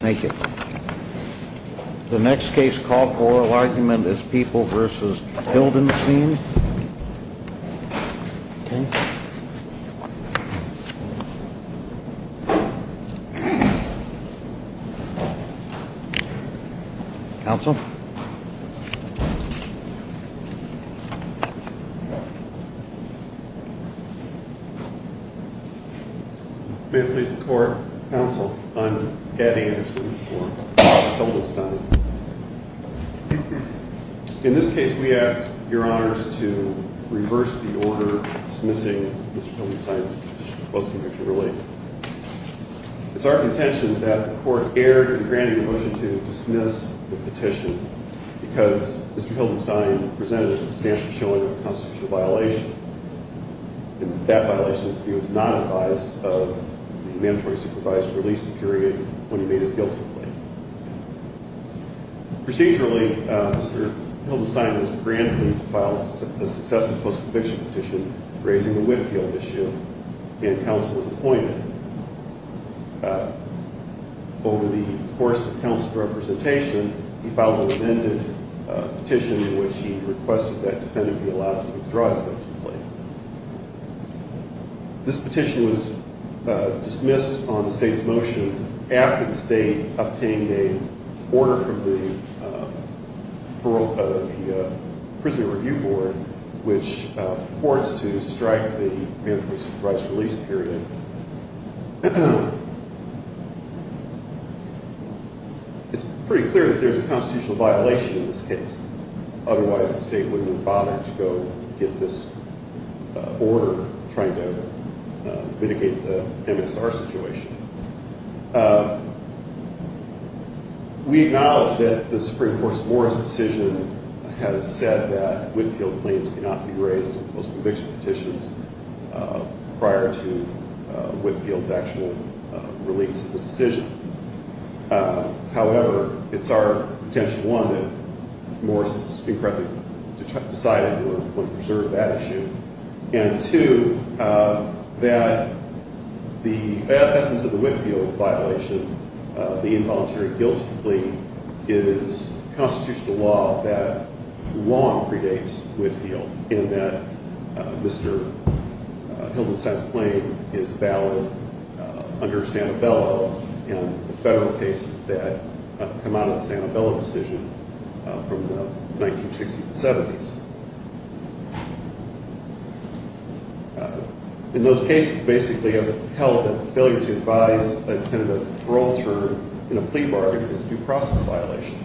Thank you. The next case called for a argument is People v. Hildenstein. Counsel. In this case, we ask your honors to reverse the order dismissing Mr. Hildenstein's post-conviction ruling. It's our contention that the court erred in granting the motion to dismiss the motion because Mr. Hildenstein presented a substantial showing of a constitutional violation. And that violation is that he was not advised of the mandatory supervised release period when he made his guilty plea. Procedurally, Mr. Hildenstein was granted to file a successive post-conviction petition raising the Whitfield issue, and counsel was appointed. Over the course of the petition, Mr. Hildenstein submitted a petition in which he requested that a defendant be allowed to withdraw his guilty plea. This petition was dismissed on the state's motion after the state obtained an order from the Prison Review Board which reports to strike the mandatory supervised release period. It's pretty clear that there's a constitutional violation in this case. Otherwise, the state wouldn't have bothered to go get this order trying to mitigate the MSR situation. We acknowledge that the Supreme Court's Morris decision has said that Whitfield claims cannot be raised in post-conviction petitions prior to Whitfield's actual release as a decision. However, it's our intention, one, that Morris is incorrectly decided to preserve that issue, and two, that the essence of the Whitfield violation, the involuntary guilty plea, is constitutional law that long predates Whitfield in that Mr. Hildenstein's claim is valid under Sanabella and the federal cases that come out of the Sanabella decision from the 1960s and 70s. In those cases, basically, a help and failure to advise a defendant of parole term in a plea bargain is a due process violation.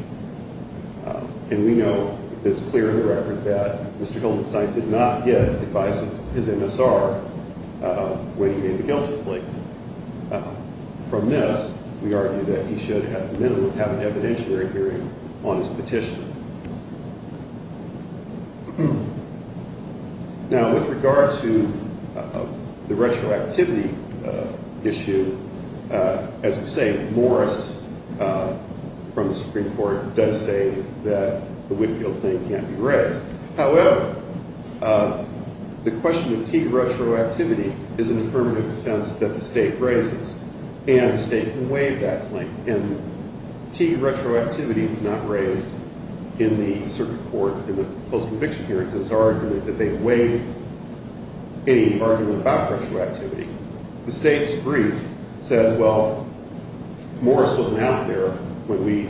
And we know that it's clear in the record that Mr. Hildenstein did not get advice of his MSR when he gave the guilty plea. From this, we argue that he should, at the minimum, have an evidentiary hearing on his petition. Now, with regard to the retroactivity issue, as we say, Morris from the Supreme Court does say that the Whitfield claim can't be raised. However, the question of T retroactivity is an affirmative defense that the state raises, and the state can waive that claim. And T retroactivity is not raised in the circuit court in the post-conviction hearings as an argument that they waive any argument about retroactivity. The state's brief says, well, Morris wasn't out there when we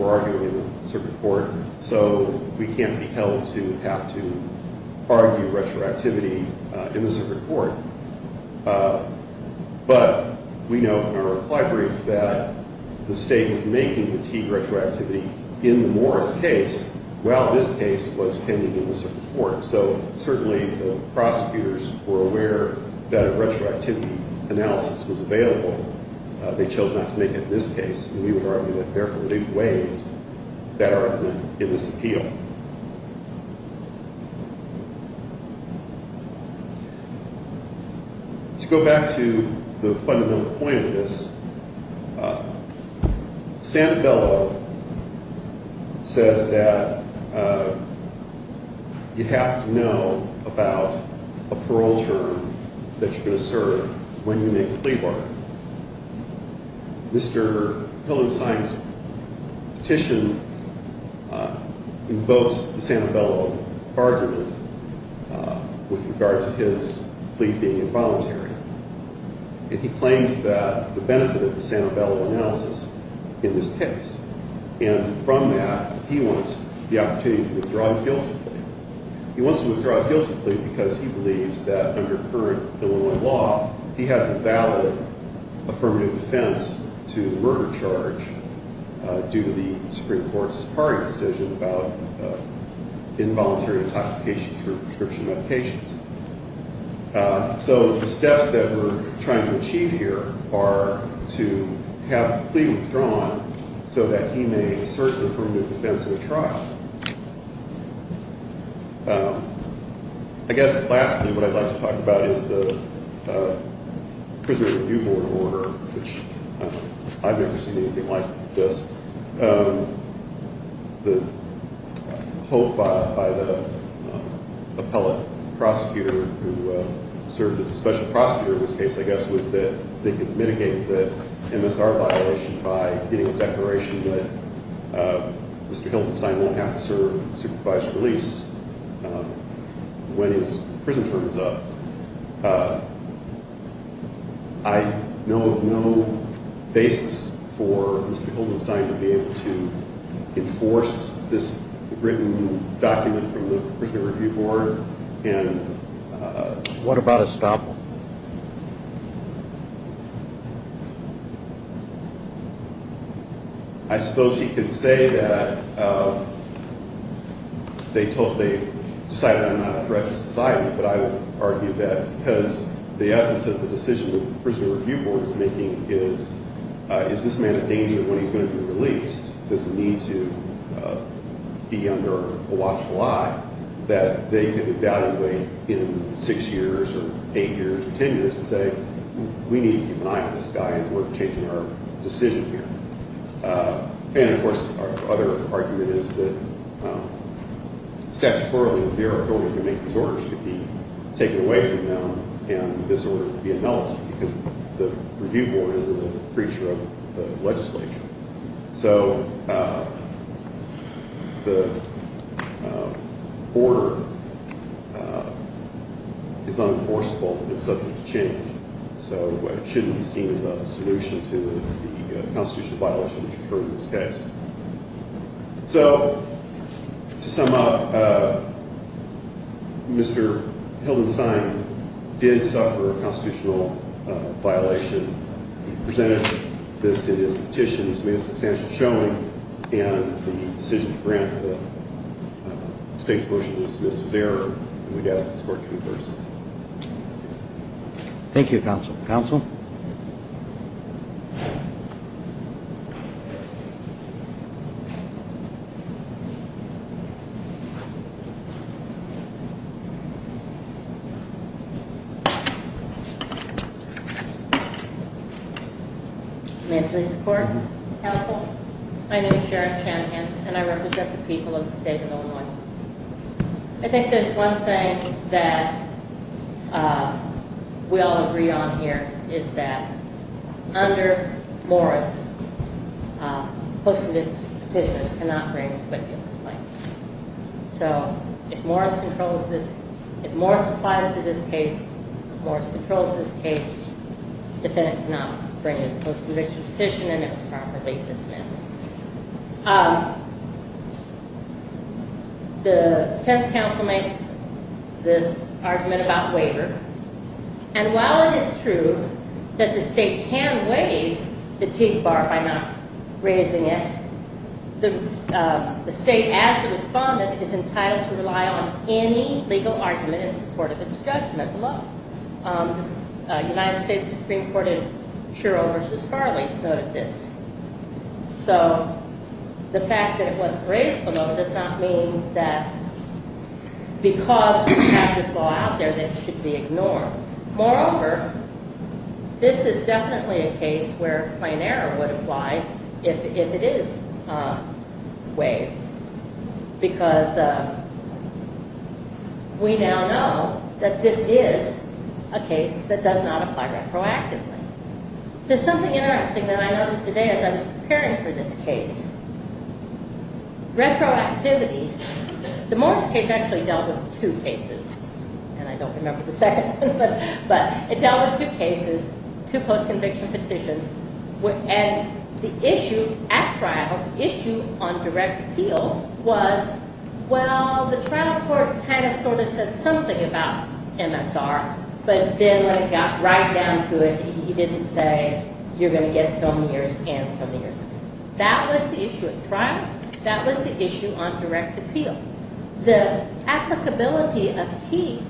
were arguing in the circuit court, so we can't be held to have to argue retroactivity in the circuit court. But we know from our reply brief that the state was making the T retroactivity in the Morris case while this case was pending in the circuit court. So certainly, the prosecutors were aware that a retroactivity analysis was available. They chose not to make it in this case, and we would argue that, therefore, they waived that argument in this appeal. To go back to the fundamental point of this, Santabello says that you have to know about a parole term that you're going to serve when you make a plea bargain. Mr. Hillenstein's petition invokes the Santabello argument with regard to his plea being involuntary. And he claims that the benefit of the Santabello analysis in this case, and from that, he wants the opportunity to withdraw his guilty plea. He wants to withdraw his guilty plea because he believes that under current Illinois law, he has a valid affirmative defense to the murder charge due to the Supreme Court's So the steps that we're trying to achieve here are to have the plea withdrawn so that he may assert the affirmative defense in a trial. I guess lastly, what I'd like to talk about is the Prison Review Board order, which I've never seen anything like this. The hope by the appellate prosecutor who served as a special prosecutor in this case, I guess, was that they could mitigate the MSR violation by getting a declaration that Mr. Hillenstein won't have to serve supervised release when his prison term is up. I know of no basis for Mr. Hillenstein to be able to enforce this written document from the Prison Review Board. What about estoppel? I suppose he could say that they decided I'm not a threat to society, but I would argue that because the essence of the decision that the Prison Review Board is making is, is this man a danger when he's going to be released? Does he need to be under a watchful eye that they could evaluate in six years or eight years or ten years and say, we need to keep an eye on this guy and we're changing our decision here. And of course, our other argument is that statutorily, in theory, the order to make these orders could be taken away from them and this order could be annulled because the Review Board isn't a preacher of the legislature. So the order is unenforceable and it's subject to change. So it shouldn't be seen as a solution to the constitutional violation that occurred in this case. So, to sum up, Mr. Hillenstein did suffer a constitutional violation. He presented this in his petition, which made a substantial showing, and the decision to grant the state's motion to dismiss his error, and we'd ask that the court concur. Thank you, Counsel. Counsel? May it please the Court. Counsel, my name is Sharon Shanahan and I represent the people of the state of Illinois. I think there's one thing that we all agree on here is that under Morris, post-conviction petitions cannot bring a quick deal of complaints. So if Morris applies to this case, if Morris controls this case, the defendant cannot bring his post-conviction petition and it's properly dismissed. The defense counsel makes this argument about waiver, and while it is true that the state can waive the Teague Bar by not raising it, the state, as the respondent, is entitled to rely on any legal argument in support of this. So the fact that it wasn't raised below does not mean that because we have this law out there that it should be ignored. Moreover, this is definitely a case where plain error would apply if it is waived, because we now know that this is a case that does not apply retroactively. There's something interesting that I noticed today as I was preparing for this case. Retroactivity. The Morris case actually dealt with two cases, and I don't remember the second one, but it dealt with two cases, two post-conviction petitions, and the issue at trial, the issue on direct appeal, was, well, the trial court kind of sort of said something about MSR, but then when it got right down to it, he didn't say you're going to get some years and some years. That was the issue at trial. That was the issue on direct appeal. The applicability of Teague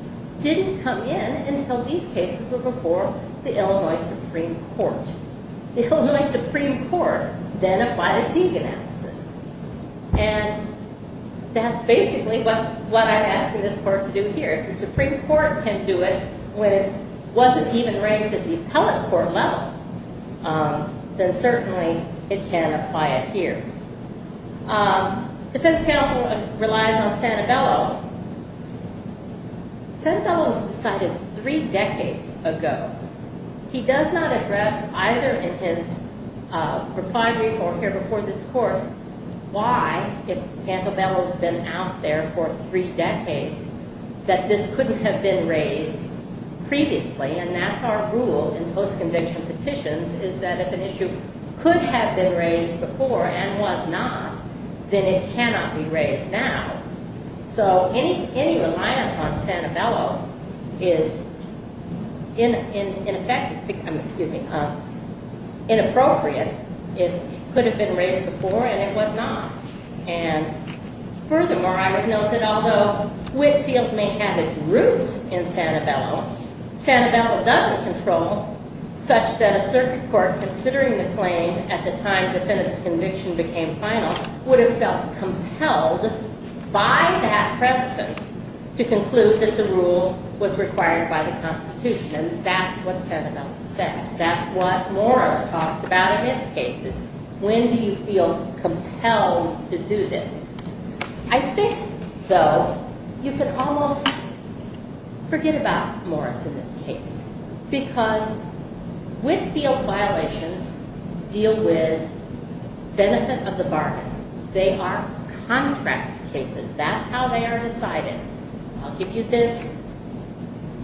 didn't come in until these cases were before the Illinois Supreme Court. The Illinois Supreme Court then applied a Teague analysis, and that's basically what I'm asking this court to do here. If the Supreme Court can do it when it wasn't even raised at the appellate court level, then certainly it can apply it here. Defense counsel relies on Santabello. Santabello was decided three decades ago. He does not address either in his reply brief or here before this court why, if Santabello has been out there for three decades, that this couldn't have been raised previously, and that's our rule in post-conviction petitions, is that if an issue could have been raised before and was not, then it cannot be raised now. So any reliance on Santabello is in effect inappropriate. It could have been raised before and it was not. And furthermore, I would note that although Whitfield may have its roots in Santabello, Santabello doesn't control such that a circuit court, considering the claim at the time defendant's conviction became final, would have felt compelled by that precedent to conclude that the rule was required by the Constitution, and that's what Santabello says. That's what Morris talks about in its cases. When do you feel compelled to do this? I think, though, you can almost forget about Morris in this case, because Whitfield violations deal with benefit of the bargain. They are contract cases. That's how they are decided. I'll give you this,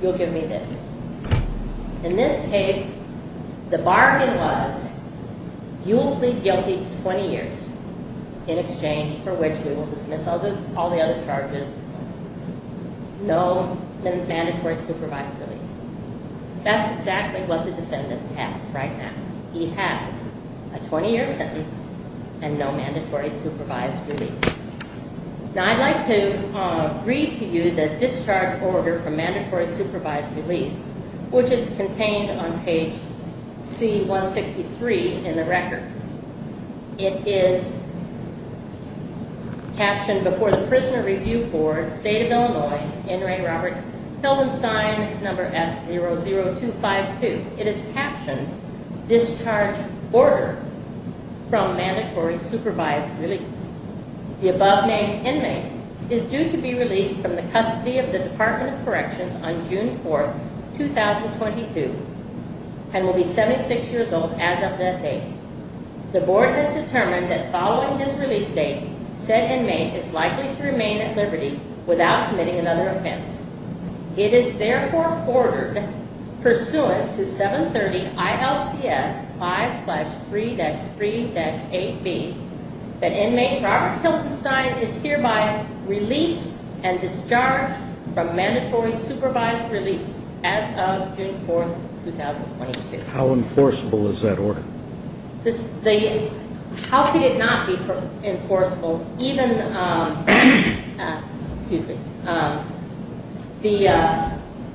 you'll give me this. In this case, the bargain was, you will plead guilty to 20 years in exchange for which you That's exactly what the defendant has right now. He has a 20 year sentence and no mandatory supervised release. Now I'd like to read to you the discharge order for mandatory supervised release, which is contained on page C-163 in the record. It is captioned before the It is captioned Discharge Order from Mandatory Supervised Release. The above named inmate is due to be released from the custody of the Department of Corrections on June 4th, 2022, and will be 76 years old as of that date. The board has determined that following his release date, said inmate is likely to remain at liberty without committing another pursuant to 730 ILCS 5-3-3-8B. That inmate, Robert Hilton Stein, is hereby released and discharged from mandatory supervised release as of June 4th, 2022. How enforceable is that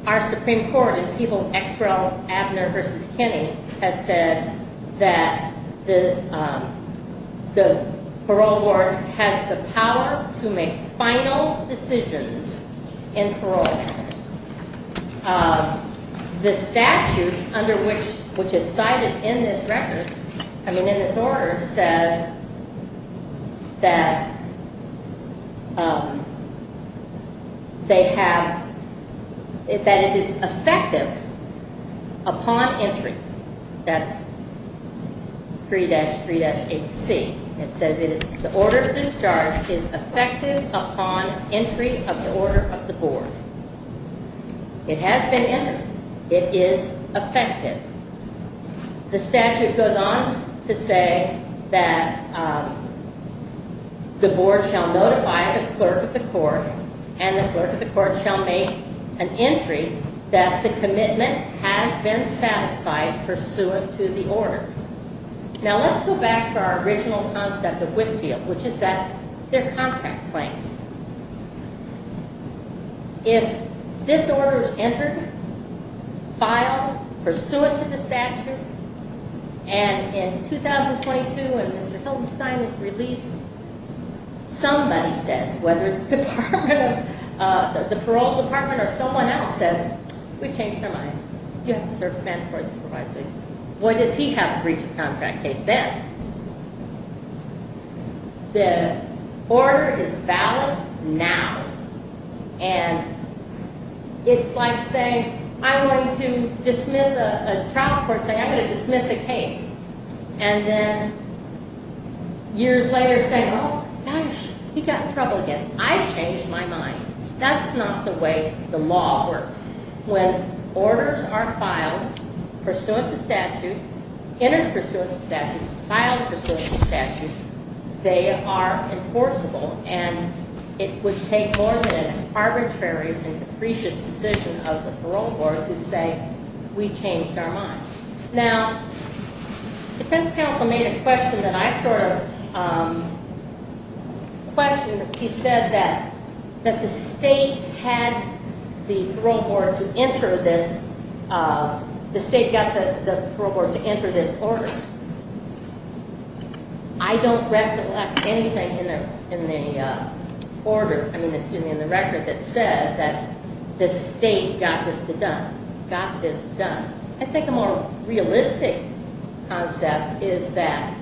Our Supreme Court in People X. Rel. Abner v. Kinney has said that the parole board has the power to make final decisions in parole matters. The statute under which is cited in this record, I mean in this order, says that they have, that it is effective upon entry. That's 3-3-8C. It says the order of discharge is effective upon entry of the order of the board. It has been entered. It is effective. The statute goes on to say that the board shall notify the clerk of the court and the clerk of the court shall make an entry that the commitment has been satisfied pursuant to the order. Now let's go back to our original concept of Whitfield, which is that they're contract claims. If this order is entered, filed, pursuant to the statute, and in 2022 when Mr. Hilton Stein is released, somebody says, whether it's the parole department or someone else says, we've changed our minds. What does he have a breach of contract case then? The order is valid now. And it's like saying, I'm going to dismiss a trial court, say I'm going to dismiss a case. And then years later say, oh gosh, he got in trouble again. I've changed my mind. That's not the way the law works. When orders are filed pursuant to statute, entered pursuant to statute, filed pursuant to statute, they are enforceable. And it would take more than an arbitrary and depreciate decision of the parole board to say, we changed our mind. Now, defense counsel made a question that I sort of questioned. He said that the state had the parole board to enter this, the state got the parole board to enter this order. I don't recollect anything in the order, I mean, excuse me, in the record that says that the state got this done. I think a more realistic concept is that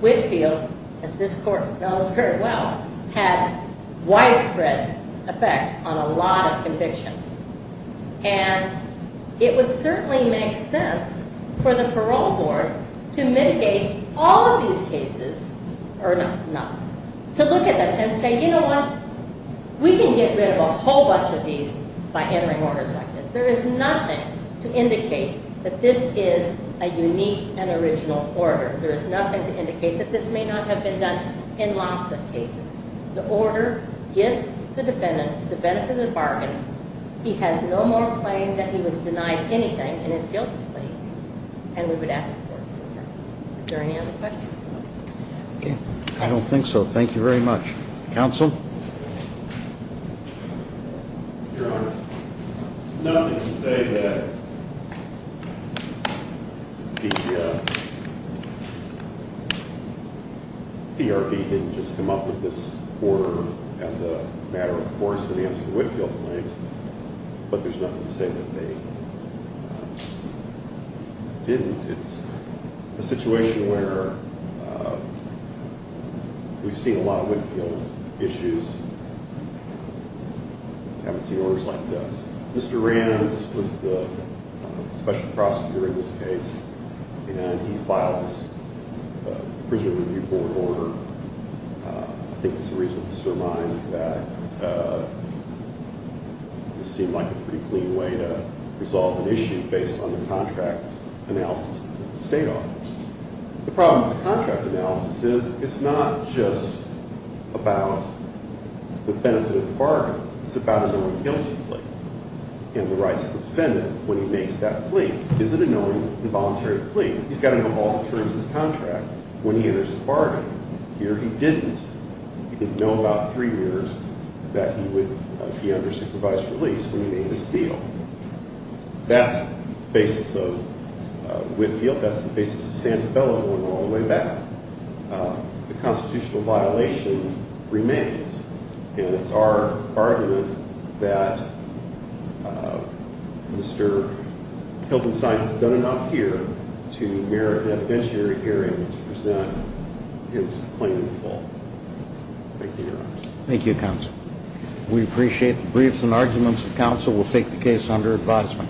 Whitfield, as this court knows very well, had widespread effect on a lot of convictions. And it would certainly make sense for the parole board to mitigate all of these cases, or not, to look at them and say, you know what, we can get rid of a whole bunch of these by entering orders like this. There is nothing to indicate that this is a unique and original order. There is nothing to indicate that this may not have been done in lots of cases. The order gives the defendant the benefit of the bargain. He has no more claim that he was denied anything in his guilty plea. And we would ask the court Is there any other questions? I don't think so. Thank you very much. Counsel? Your Honor, nothing to say that the PRB didn't just come up with this order as a matter of course to answer Whitfield claims, but there's nothing to say that they didn't. It's a situation where we've seen a lot of Whitfield issues, haven't seen orders like this. Mr. Rams was the special prosecutor in this case, and he filed this Prison Review Board order. I think it's reasonable to surmise that it seemed like a pretty clean way to resolve an issue based on the contract analysis of the state office. The problem with the contract analysis is it's not just about the benefit of the bargain. It's about his own guilty plea and the rights of the defendant when he makes that plea. Is it an own involuntary plea? He's got to know all the terms of the contract when he enters the bargain. Here he didn't. He didn't know about three years that he would be under supervised release when he made this deal. That's the basis of Whitfield. That's the basis of Santabella going all the way back. The constitutional violation remains, and it's our argument that Mr. Hildenstein has done enough here to merit an adventure hearing to present his claimant fault. Thank you, Your Honors. Thank you, Counsel. We appreciate the briefs and arguments. Counsel will take the case under advisement.